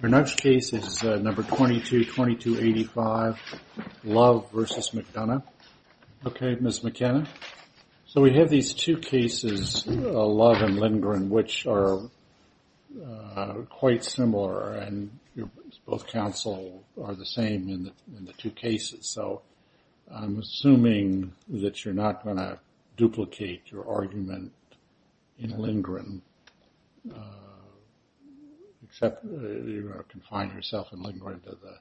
The next case is number 22, 2285, Love v. McDonough. Okay, Ms. McKenna. So we have these two cases, Love and Lindgren, which are quite similar, and both counsel are the same in the two cases. So I'm assuming that you're not going to duplicate your argument in Lindgren, except you confine yourself in Lindgren to the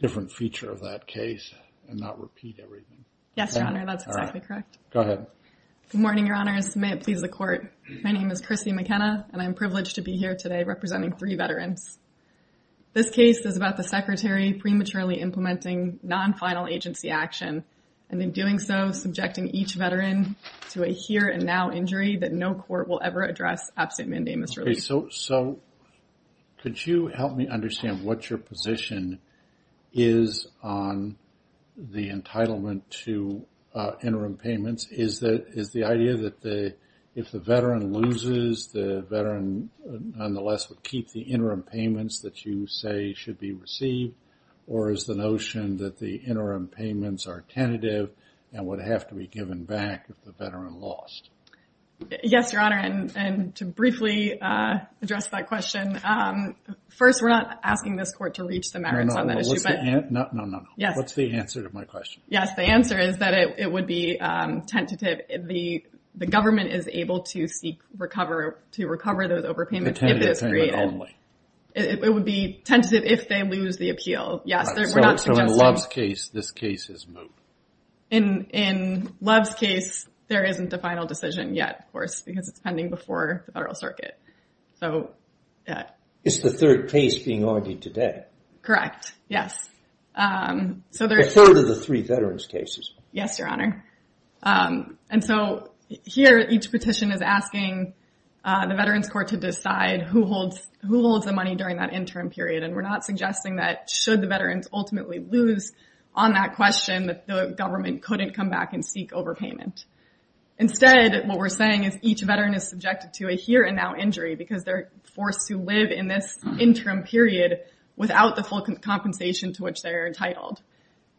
different feature of that case and not repeat everything. McKenna Yes, Your Honor, that's exactly correct. McDonough Go ahead. McKenna Good morning, Your Honor, and may it please the court. My name is Chrissy McKenna, and I'm privileged to be here today representing three veterans. This case is about the Secretary prematurely implementing non-final agency action, and in doing so, subjecting each veteran to a here and now injury that no court will ever address absent mandamus relief. Brett So could you help me understand what your position is on the entitlement to interim payments? Is the idea that if the veteran loses, the veteran nonetheless would keep the interim payments that you say should be received, or is the notion that the interim payments are tentative and would have to be given back if the veteran lost? McKenna Yes, Your Honor, and to briefly address that question. First, we're not asking this court to reach the merits on that issue. Brett No, no, no. What's the answer to my question? McKenna Yes, the answer is that it would be tentative. The government is able to seek to recover those overpayments if it is created. It would be tentative if they lose the appeal. Yes, we're not suggesting... Brett So in Love's case, this case is moved. McKenna In Love's case, there isn't a final decision yet, of course, because it's pending before the Federal Circuit. Brett Is the third case being argued today? McKenna Correct, yes. Brett The third of the three veterans cases. McKenna Yes, Your Honor. And so here, each petition is asking the Veterans Court to decide who holds the money during that interim period, and we're not suggesting that should the veterans ultimately lose on that question that the government couldn't come back and seek overpayment. Instead, what we're saying is each veteran is subjected to a here and now injury because they're forced to live in this interim period without the full compensation to which they're entitled.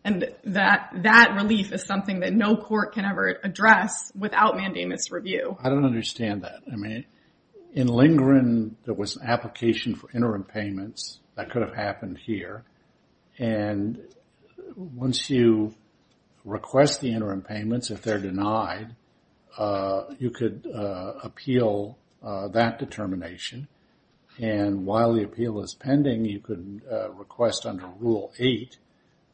And that relief is something that no court can ever address without mandamus review. Brett I don't understand that. I mean, in Lindgren, there was an application for interim payments that could have happened here. And once you request the interim payments, if they're denied, you could appeal that determination. And while the appeal is pending, you could request under Rule 8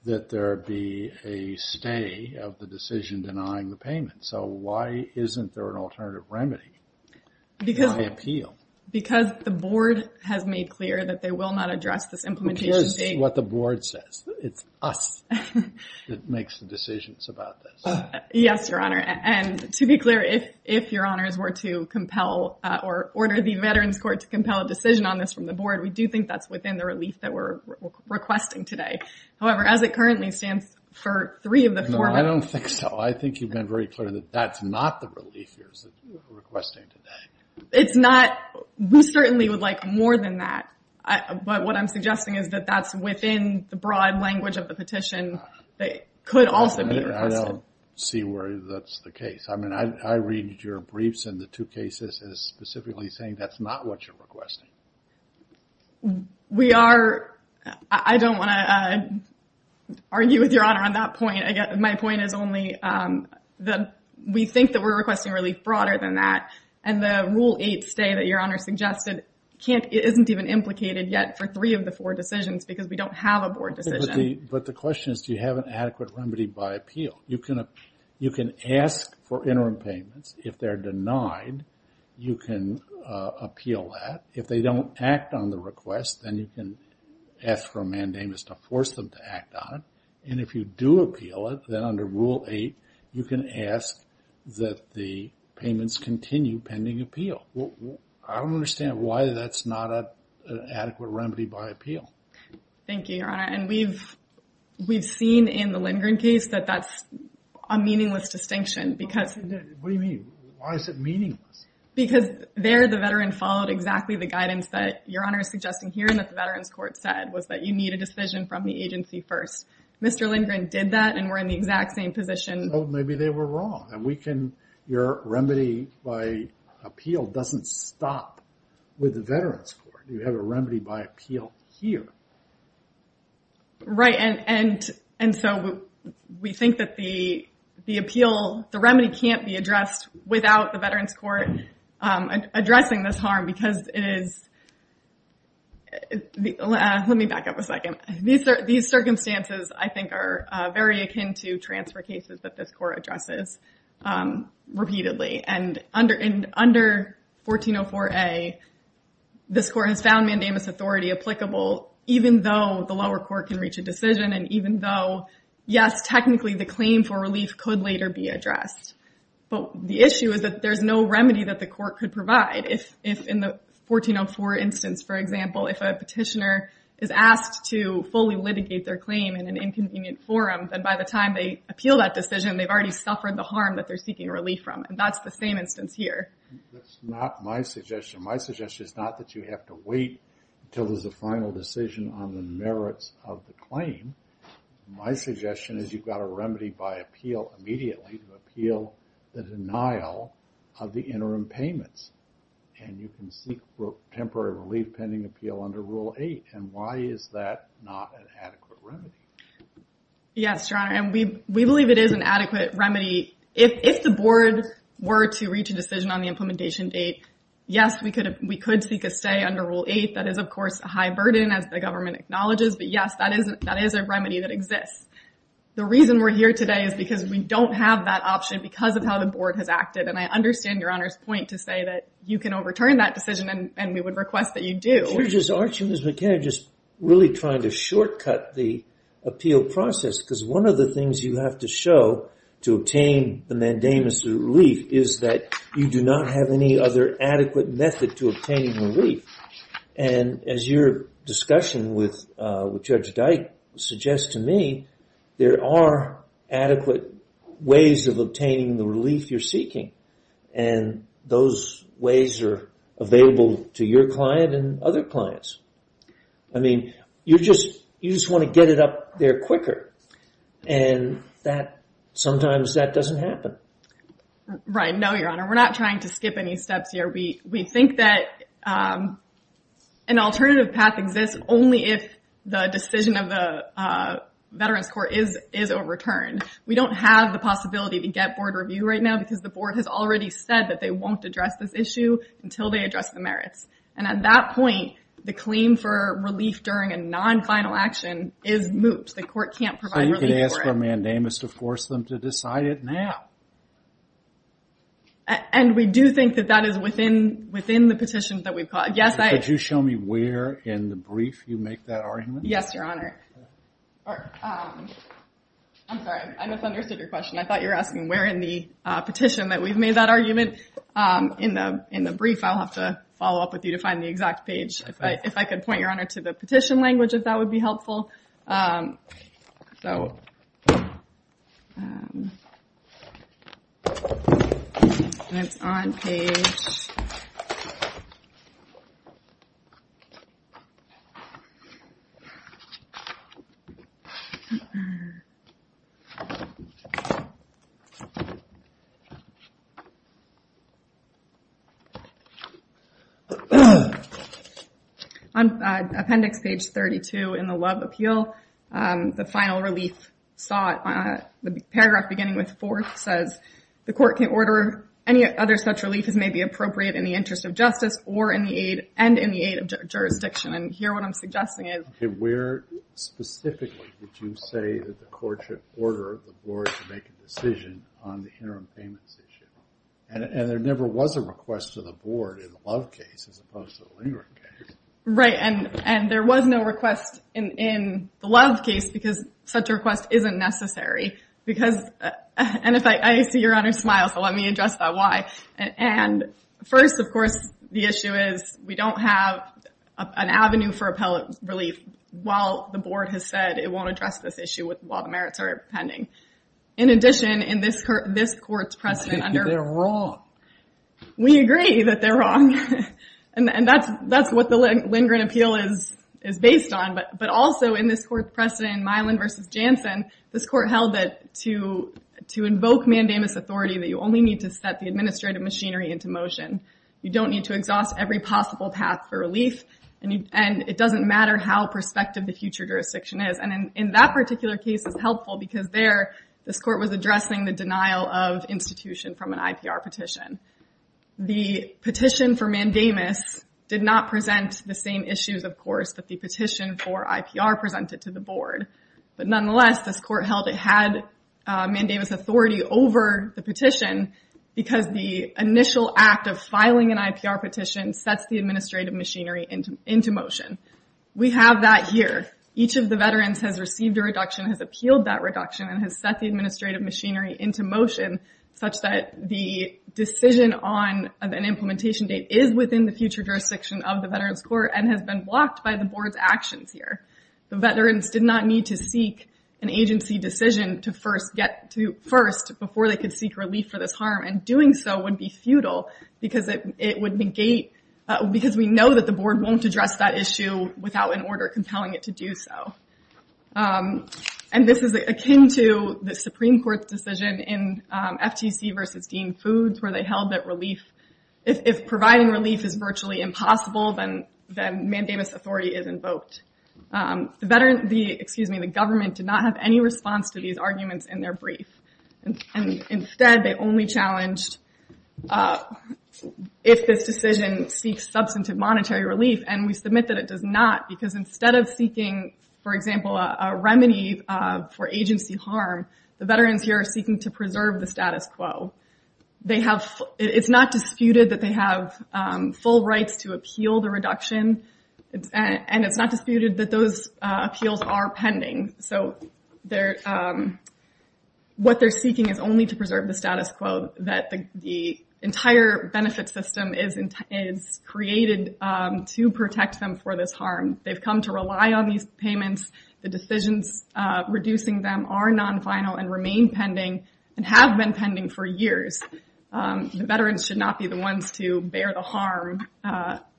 that there be a stay of the decision denying the payment. So why isn't there an alternative remedy? Why appeal? McKenna Because the board has made clear that they what the board says. It's us that makes the decisions about this. Brett Yes, your honor. And to be clear, if your honors were to compel or order the Veterans Court to compel a decision on this from the board, we do think that's within the relief that we're requesting today. However, as it currently stands for three of the four, I don't think so. I think you've been very clear that that's not the relief you're requesting today. McKenna It's not. We certainly would like more than that. But what I'm suggesting is that that's within the broad language of the petition that could also be requested. Brett I don't see where that's the case. I mean, I read your briefs and the two cases as specifically saying that's not what you're requesting. McKenna I don't want to argue with your honor on that point. My point is only that we think that we're requesting relief broader than that. And the Rule 8 stay that your honor suggested isn't even implicated yet for three of the four decisions because we don't have a board decision. Brett But the question is, do you have an adequate remedy by appeal? You can ask for interim payments. If they're denied, you can appeal that. If they don't act on the request, then you can ask for a mandamus to force them to act on it. And if you do appeal it, then under Rule 8, you can ask that the payments continue pending appeal. I don't understand why that's not an adequate remedy by appeal. McKenna Thank you, your honor. And we've seen in the Lindgren case that that's a meaningless distinction because- Brett What do you mean? Why is it meaningless? McKenna Because there the veteran followed exactly the guidance that your honor is suggesting here and that the Veterans Court said was that you need a decision from the agency first. Mr. Lindgren did that and we're in the exact same position. Brett Oh, maybe they were wrong. And we can- your remedy by appeal doesn't stop with the Veterans Court. You have a remedy by appeal here. McKenna Right. And so we think that the appeal- the remedy can't be addressed without the Veterans Court These circumstances, I think, are very akin to transfer cases that this court addresses repeatedly. And under 1404A, this court has found mandamus authority applicable even though the lower court can reach a decision and even though, yes, technically the claim for relief could later be addressed. But the issue is that there's no remedy that the court could provide if in the 1404 instance, for example, if a petitioner is asked to fully litigate their claim in an inconvenient forum, then by the time they appeal that decision, they've already suffered the harm that they're seeking relief from. And that's the same instance here. Mr. Lindgren That's not my suggestion. My suggestion is not that you have to wait until there's a final decision on the merits of the claim. My suggestion is you've got a remedy by appeal immediately to appeal the denial of the interim payments. And you can seek temporary relief pending appeal under Rule 8. And why is that not an adequate remedy? Ms. McFarland Yes, Your Honor. And we believe it is an adequate remedy. If the board were to reach a decision on the implementation date, yes, we could seek a stay under Rule 8. That is, of course, a high burden, as the government acknowledges. But yes, that is a remedy that exists. The reason we're here today is because we don't have that option because of how the board has acted. I understand Your Honor's point to say that you can overturn that decision, and we would request that you do. Mr. Lindgren Aren't you, Ms. McKenna, just really trying to shortcut the appeal process? Because one of the things you have to show to obtain the mandamus of relief is that you do not have any other adequate method to obtaining relief. And as your discussion with Judge Dyke suggests to me, there are adequate ways of obtaining the relief you're seeking. And those ways are available to your client and other clients. I mean, you just want to get it up there quicker. And sometimes that doesn't happen. Ms. McFarland Right. No, Your Honor. We're not trying to skip any steps here. We think that an alternative path exists only if the decision of the Veterans Court is overturned. We don't have the possibility to get board review right now because the board has already said that they won't address this issue until they address the merits. And at that point, the claim for relief during a non-final action is mooped. The court can't provide relief for it. Mr. Lindgren So you could ask for a mandamus to force them to decide it now? Ms. McFarland And we do think that that is within the petitions that we've got. Yes, I... Mr. Lindgren Could you show me where in the brief you make that argument? Ms. McFarland Yes, Your Honor. Or, I'm sorry, I misunderstood your question. I thought you were asking where in the petition that we've made that argument. In the brief, I'll have to follow up with you to find the exact page. If I could point, Your Honor, to the petition language, if that would be helpful. So, it's on page... On appendix page 32 in the Love Appeal, the final relief sought, the paragraph beginning with fourth says, the court can order any other such relief as may be appropriate in the interest of justice or in the aid, and in the aid of jurisdiction. And here what I'm suggesting is... Mr. Lindgren Okay, where specifically would you say that the courts should order the board to make a decision on the interim payments issue? And there never was a request to the board in the Love case as opposed to the Lindgren case. Ms. McFarland Right. And there was no request in the Love case because such a request isn't necessary. Because... And if I see Your Honor smile, so let me address that why. And first, of course, the issue is we don't have an avenue for appellate relief while the board has said it won't address this issue while the merits are pending. In addition, in this court's precedent under... Mr. Lindgren They're wrong. Ms. McFarland We agree that they're wrong. And that's what the Lindgren appeal is based on. But also in this court's precedent in Milan v. Jansen, this court held that to invoke mandamus authority that you only need to set the administrative machinery into motion. You don't need to exhaust every possible path for relief. And it doesn't matter how prospective the future jurisdiction is. In that particular case, it's helpful because there, this court was addressing the denial of institution from an IPR petition. The petition for mandamus did not present the same issues, of course, that the petition for IPR presented to the board. But nonetheless, this court held it had mandamus authority over the petition because the initial act of filing an IPR petition sets the administrative machinery into motion. We have that here. Each of the veterans has received a reduction, has appealed that reduction, and has set the administrative machinery into motion such that the decision on an implementation date is within the future jurisdiction of the Veterans Court and has been blocked by the board's actions here. The veterans did not need to seek an agency decision to first get to first before they could seek relief for this harm. And doing so would be futile because it would negate because we know that the board won't address that issue without an order compelling it to do so. And this is akin to the Supreme Court's decision in FTC versus Dean Foods where they held that relief, if providing relief is virtually impossible, then mandamus authority is invoked. The government did not have any response to these arguments in their brief. And instead, they only challenged if this decision seeks substantive monetary relief and we submit that it does not because instead of seeking, for example, a remedy for agency harm, the veterans here are seeking to preserve the status quo. It's not disputed that they have full rights to appeal the reduction and it's not disputed that those appeals are pending. So what they're seeking is only to preserve the status quo, that the entire benefit system is created to protect them for this harm. They've come to rely on these payments. The decisions reducing them are non-final and remain pending and have been pending for years. The veterans should not be the ones to bear the harm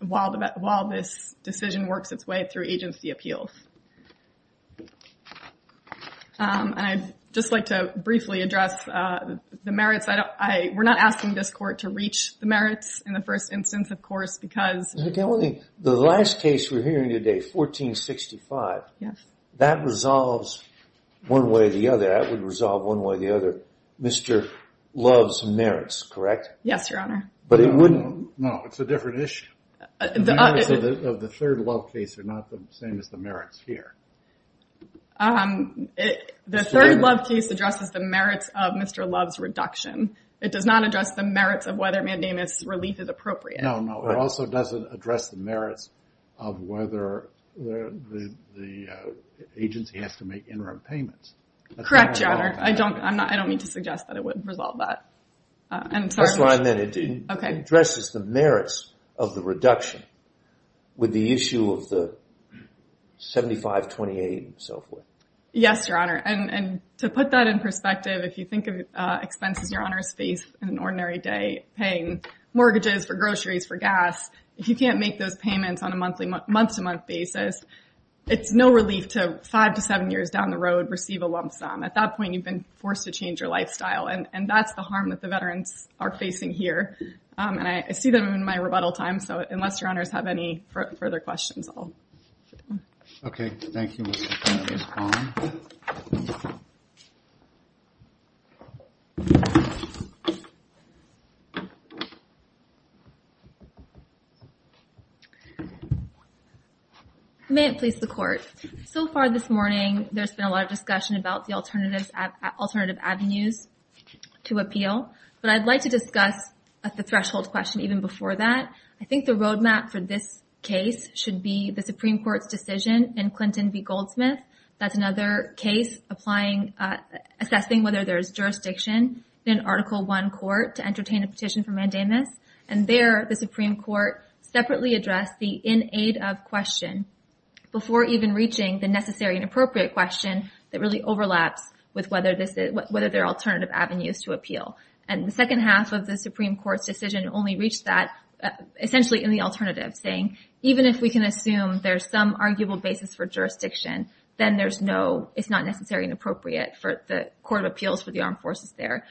while this decision works its way through agency appeals. And I'd just like to briefly address the merits. We're not asking this court to reach the merits in the first instance, of course, because The last case we're hearing today, 1465, that resolves one way or the other. That would resolve one way or the other. Mr. Love's merits, correct? Yes, Your Honor. But it wouldn't No, it's a different issue. The merits of the third Love case are not the same as the merits here. Um, the third Love case addresses the merits of Mr. Love's reduction. It does not address the merits of whether mandamus relief is appropriate. No, no, it also doesn't address the merits of whether the agency has to make interim payments. Correct, Your Honor. I don't, I'm not, I don't mean to suggest that it would resolve that. I'm sorry. That's what I meant. It addresses the merits of the reduction. With the issue of the 7528 and so forth. Yes, Your Honor. And to put that in perspective, if you think of expenses Your Honor's face in an ordinary day paying mortgages for groceries, for gas. If you can't make those payments on a monthly, month-to-month basis, it's no relief to five to seven years down the road, receive a lump sum. At that point, you've been forced to change your lifestyle. And that's the harm that the veterans are facing here. And I see them in my rebuttal time. So unless Your Honor's have any further questions, I'll. Okay. Thank you, Ms. Kwan. May it please the Court. So far this morning, there's been a lot of discussion about the alternatives, alternative avenues to appeal. But I'd like to discuss the threshold question even before that. I think the roadmap for this case should be the Supreme Court's decision in Clinton v. Goldsmith. That's another case applying, assessing whether there's jurisdiction in Article I court to entertain a petition for mandamus. And there, the Supreme Court separately addressed the in-aid-of question before even reaching the necessary and appropriate question that really overlaps with whether there are alternative avenues to appeal. The second half of the Supreme Court's decision only reached that, essentially in the alternative, saying even if we can assume there's some arguable basis for jurisdiction, then there's no, it's not necessary and appropriate for the Court of Appeals for the Armed Forces there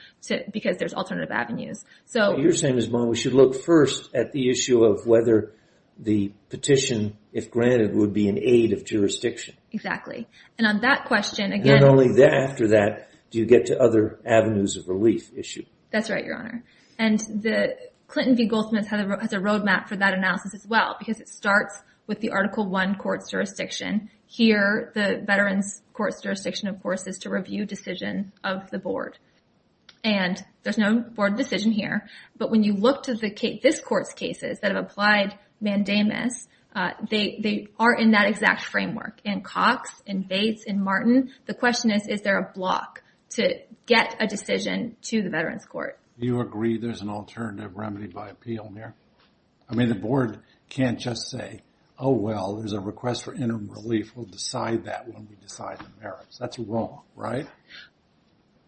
because there's alternative avenues. You're saying, Ms. Kwan, we should look first at the issue of whether the petition, if granted, would be an aid of jurisdiction. Exactly. And on that question, again— After that, do you get to other avenues of relief issue? That's right, Your Honor. And the Clinton v. Goldsmith has a roadmap for that analysis as well because it starts with the Article I court's jurisdiction. Here, the veterans court's jurisdiction, of course, is to review decision of the board. And there's no board decision here. But when you look to this court's cases that have applied mandamus, they are in that exact framework in Cox, in Bates, in Martin. The question is, is there a block to get a decision to the veterans court? Do you agree there's an alternative remedy by appeal here? I mean, the board can't just say, oh, well, there's a request for interim relief. We'll decide that when we decide the merits. That's wrong, right?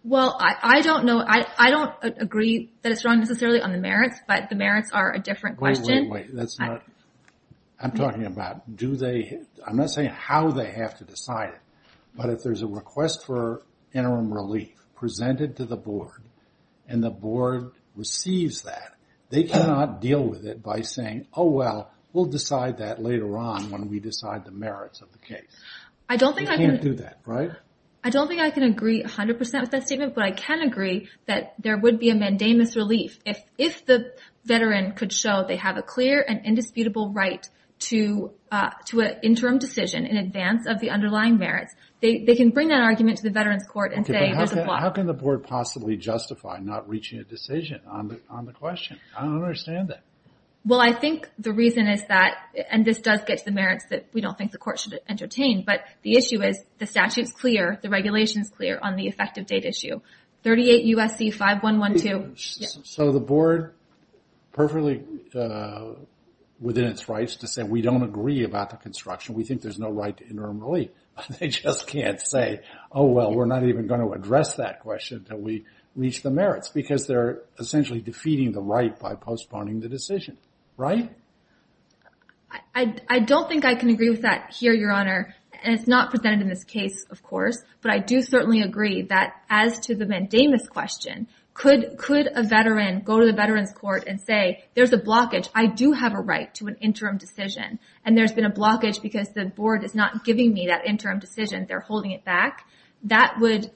Well, I don't know. I don't agree that it's wrong necessarily on the merits, but the merits are a different question. Wait, wait, wait. That's not—I'm talking about do they—I'm not saying how they have to decide it. But if there's a request for interim relief presented to the board, and the board receives that, they cannot deal with it by saying, oh, well, we'll decide that later on when we decide the merits of the case. They can't do that, right? I don't think I can agree 100% with that statement. But I can agree that there would be a mandamus relief if the veteran could show they have a clear and indisputable right to an interim decision in advance of the underlying merits, they can bring that argument to the veterans court and say— Okay, but how can the board possibly justify not reaching a decision on the question? I don't understand that. Well, I think the reason is that, and this does get to the merits that we don't think the court should entertain, but the issue is the statute's clear, the regulation's clear on the effective date issue. 38 U.S.C. 5112. So the board, perfectly within its rights to say we don't agree about the construction, we think there's no right to interim relief. They just can't say, oh, well, we're not even going to address that question until we reach the merits. Because they're essentially defeating the right by postponing the decision, right? I don't think I can agree with that here, Your Honor. And it's not presented in this case, of course. But I do certainly agree that as to the mandamus question, could a veteran go to the veterans court and say, there's a blockage, I do have a right to an interim decision. And there's been a blockage because the board is not giving me that interim decision. They're holding it back. That would,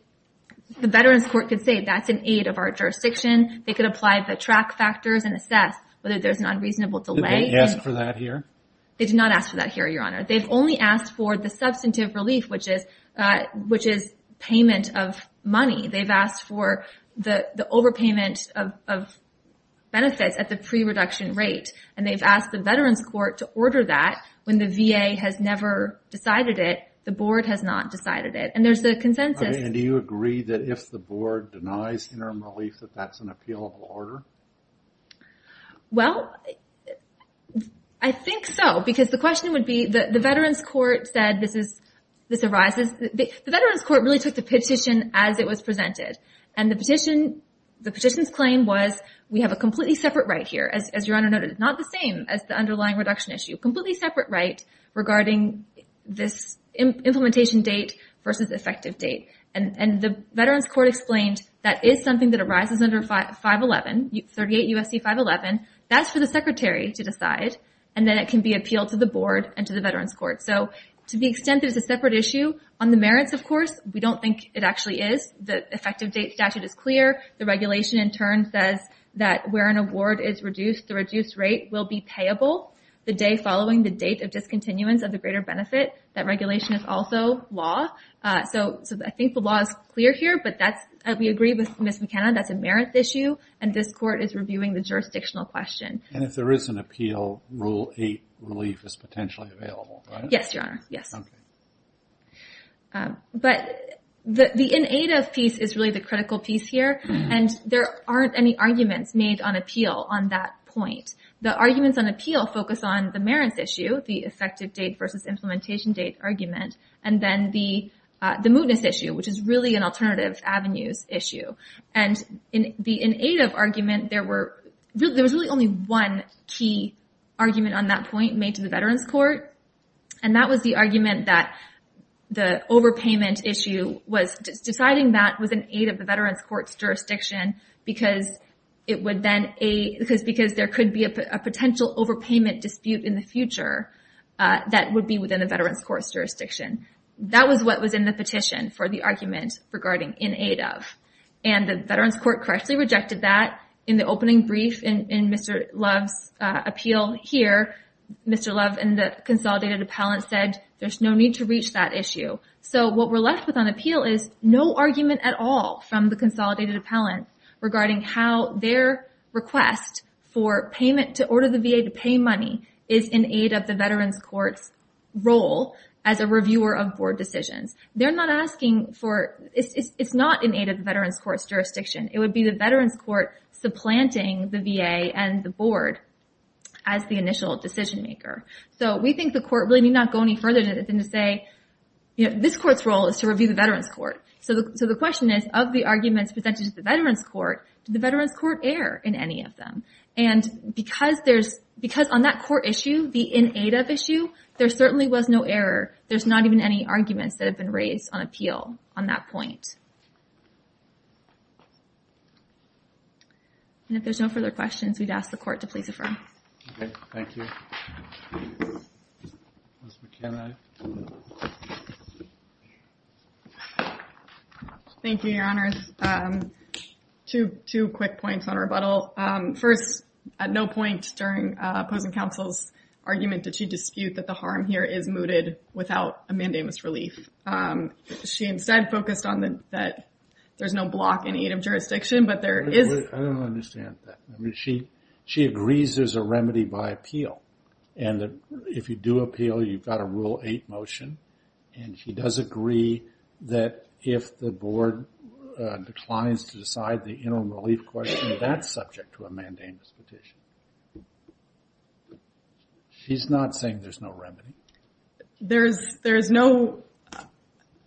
the veterans court could say, that's an aid of our jurisdiction. They could apply the track factors and assess whether there's an unreasonable delay. Did they ask for that here? They did not ask for that here, Your Honor. They've only asked for the substantive relief, which is payment of money. They've asked for the overpayment of benefits at the pre-reduction rate. And they've asked the veterans court to order that when the VA has never decided it. The board has not decided it. And there's a consensus. I mean, do you agree that if the board denies interim relief, that that's an appealable order? Well, I think so. Because the question would be, the veterans court said this arises, the veterans court really took the petition as it was presented. And the petition, the petition's claim was, we have a completely separate right here. As Your Honor noted, it's not the same as the underlying reduction issue. Completely separate right regarding this implementation date versus effective date. And the veterans court explained that is something that arises under 511, 38 U.S.C. 511. That's for the secretary to decide. And then it can be appealed to the board and to the veterans court. So to the extent that it's a separate issue on the merits, of course, we don't think it actually is. The effective date statute is clear. The regulation in turn says that where an award is reduced, the reduced rate will be payable the day following the date of discontinuance of the greater benefit. That regulation is also law. So I think the law is clear here. But that's, we agree with Ms. McKenna, that's a merit issue. And this court is reviewing the jurisdictional question. And if there is an appeal, Rule 8 relief is potentially available, correct? Yes, Your Honor. Yes. Okay. But the in-aid of piece is really the critical piece here. And there aren't any arguments made on appeal on that point. The arguments on appeal focus on the merits issue, the effective date versus implementation date argument, and then the mootness issue, which is really an alternative avenues issue. And in the in-aid of argument, there was really only one key argument on that point made to the veterans court. And that was the argument that the overpayment issue was deciding that was an aid of the veterans court's jurisdiction because there could be a potential overpayment dispute in the future that would be within the veterans court's jurisdiction. That was what was in the petition for the argument regarding in-aid of. And the veterans court correctly rejected that in the opening brief in Mr. Love's appeal here, Mr. Love and the consolidated appellant said, there's no need to reach that issue. So what we're left with on appeal is no argument at all from the consolidated appellant regarding how their request for payment to order the VA to pay money is in aid of the veterans court's role as a reviewer of board decisions. They're not asking for, it's not in aid of the veterans court's jurisdiction. It would be the veterans court supplanting the VA and the board as the initial decision maker. So we think the court really need not go any further than to say, this court's role is to review the veterans court. So the question is of the arguments presented to the veterans court, did the veterans court air in any of them? And because on that court issue, the in-aid of issue, there certainly was no error. There's not even any arguments that have been raised on appeal on that point. And if there's no further questions, we'd ask the court to please affirm. OK. Thank you. Thank you, Your Honors. Two quick points on rebuttal. First, at no point during opposing counsel's argument did she dispute that the harm here is mooted without a mandamus relief. She instead focused on that there's no block in aid of jurisdiction, but there is. I don't understand that. I mean, she agrees there's a remedy by appeal. And if you do appeal, you've got a rule eight motion. And she does agree that if the board declines to decide the interim relief question, that's subject to a mandamus petition. She's not saying there's no remedy. There's no,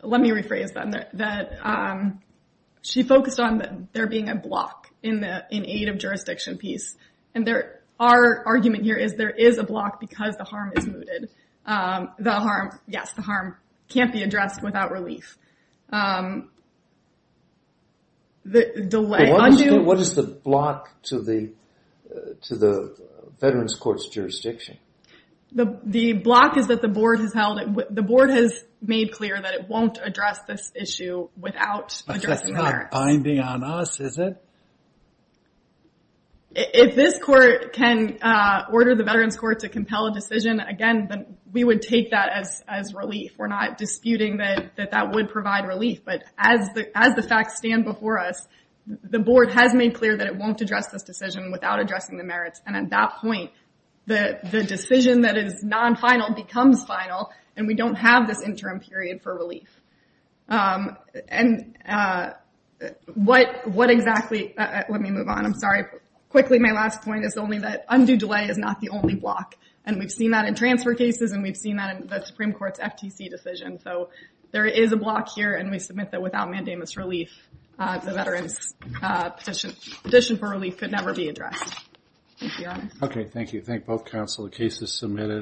let me rephrase that. She focused on there being a block in aid of jurisdiction piece. And our argument here is there is a block because the harm is mooted. The harm, yes, the harm can't be addressed without relief. Delay, undo. What is the block to the veterans court's jurisdiction? The block is that the board has held it. The board has made clear that it won't address this issue without addressing the merits. That's not binding on us, is it? If this court can order the veterans court to compel a decision, again, then we would take that as relief. We're not disputing that that would provide relief. But as the facts stand before us, the board has made clear that it won't address this decision without addressing the merits. And at that point, the decision that is non-final becomes final. And we don't have this interim period for relief. And what exactly, let me move on. I'm sorry. Quickly, my last point is only that undo delay is not the only block. And we've seen that in transfer cases. And we've seen that in the Supreme Court's FTC decision. So there is a block here. And we submit that without mandamus relief, the veterans petition for relief could never be addressed. OK, thank you. Thank both counsel. The case is submitted.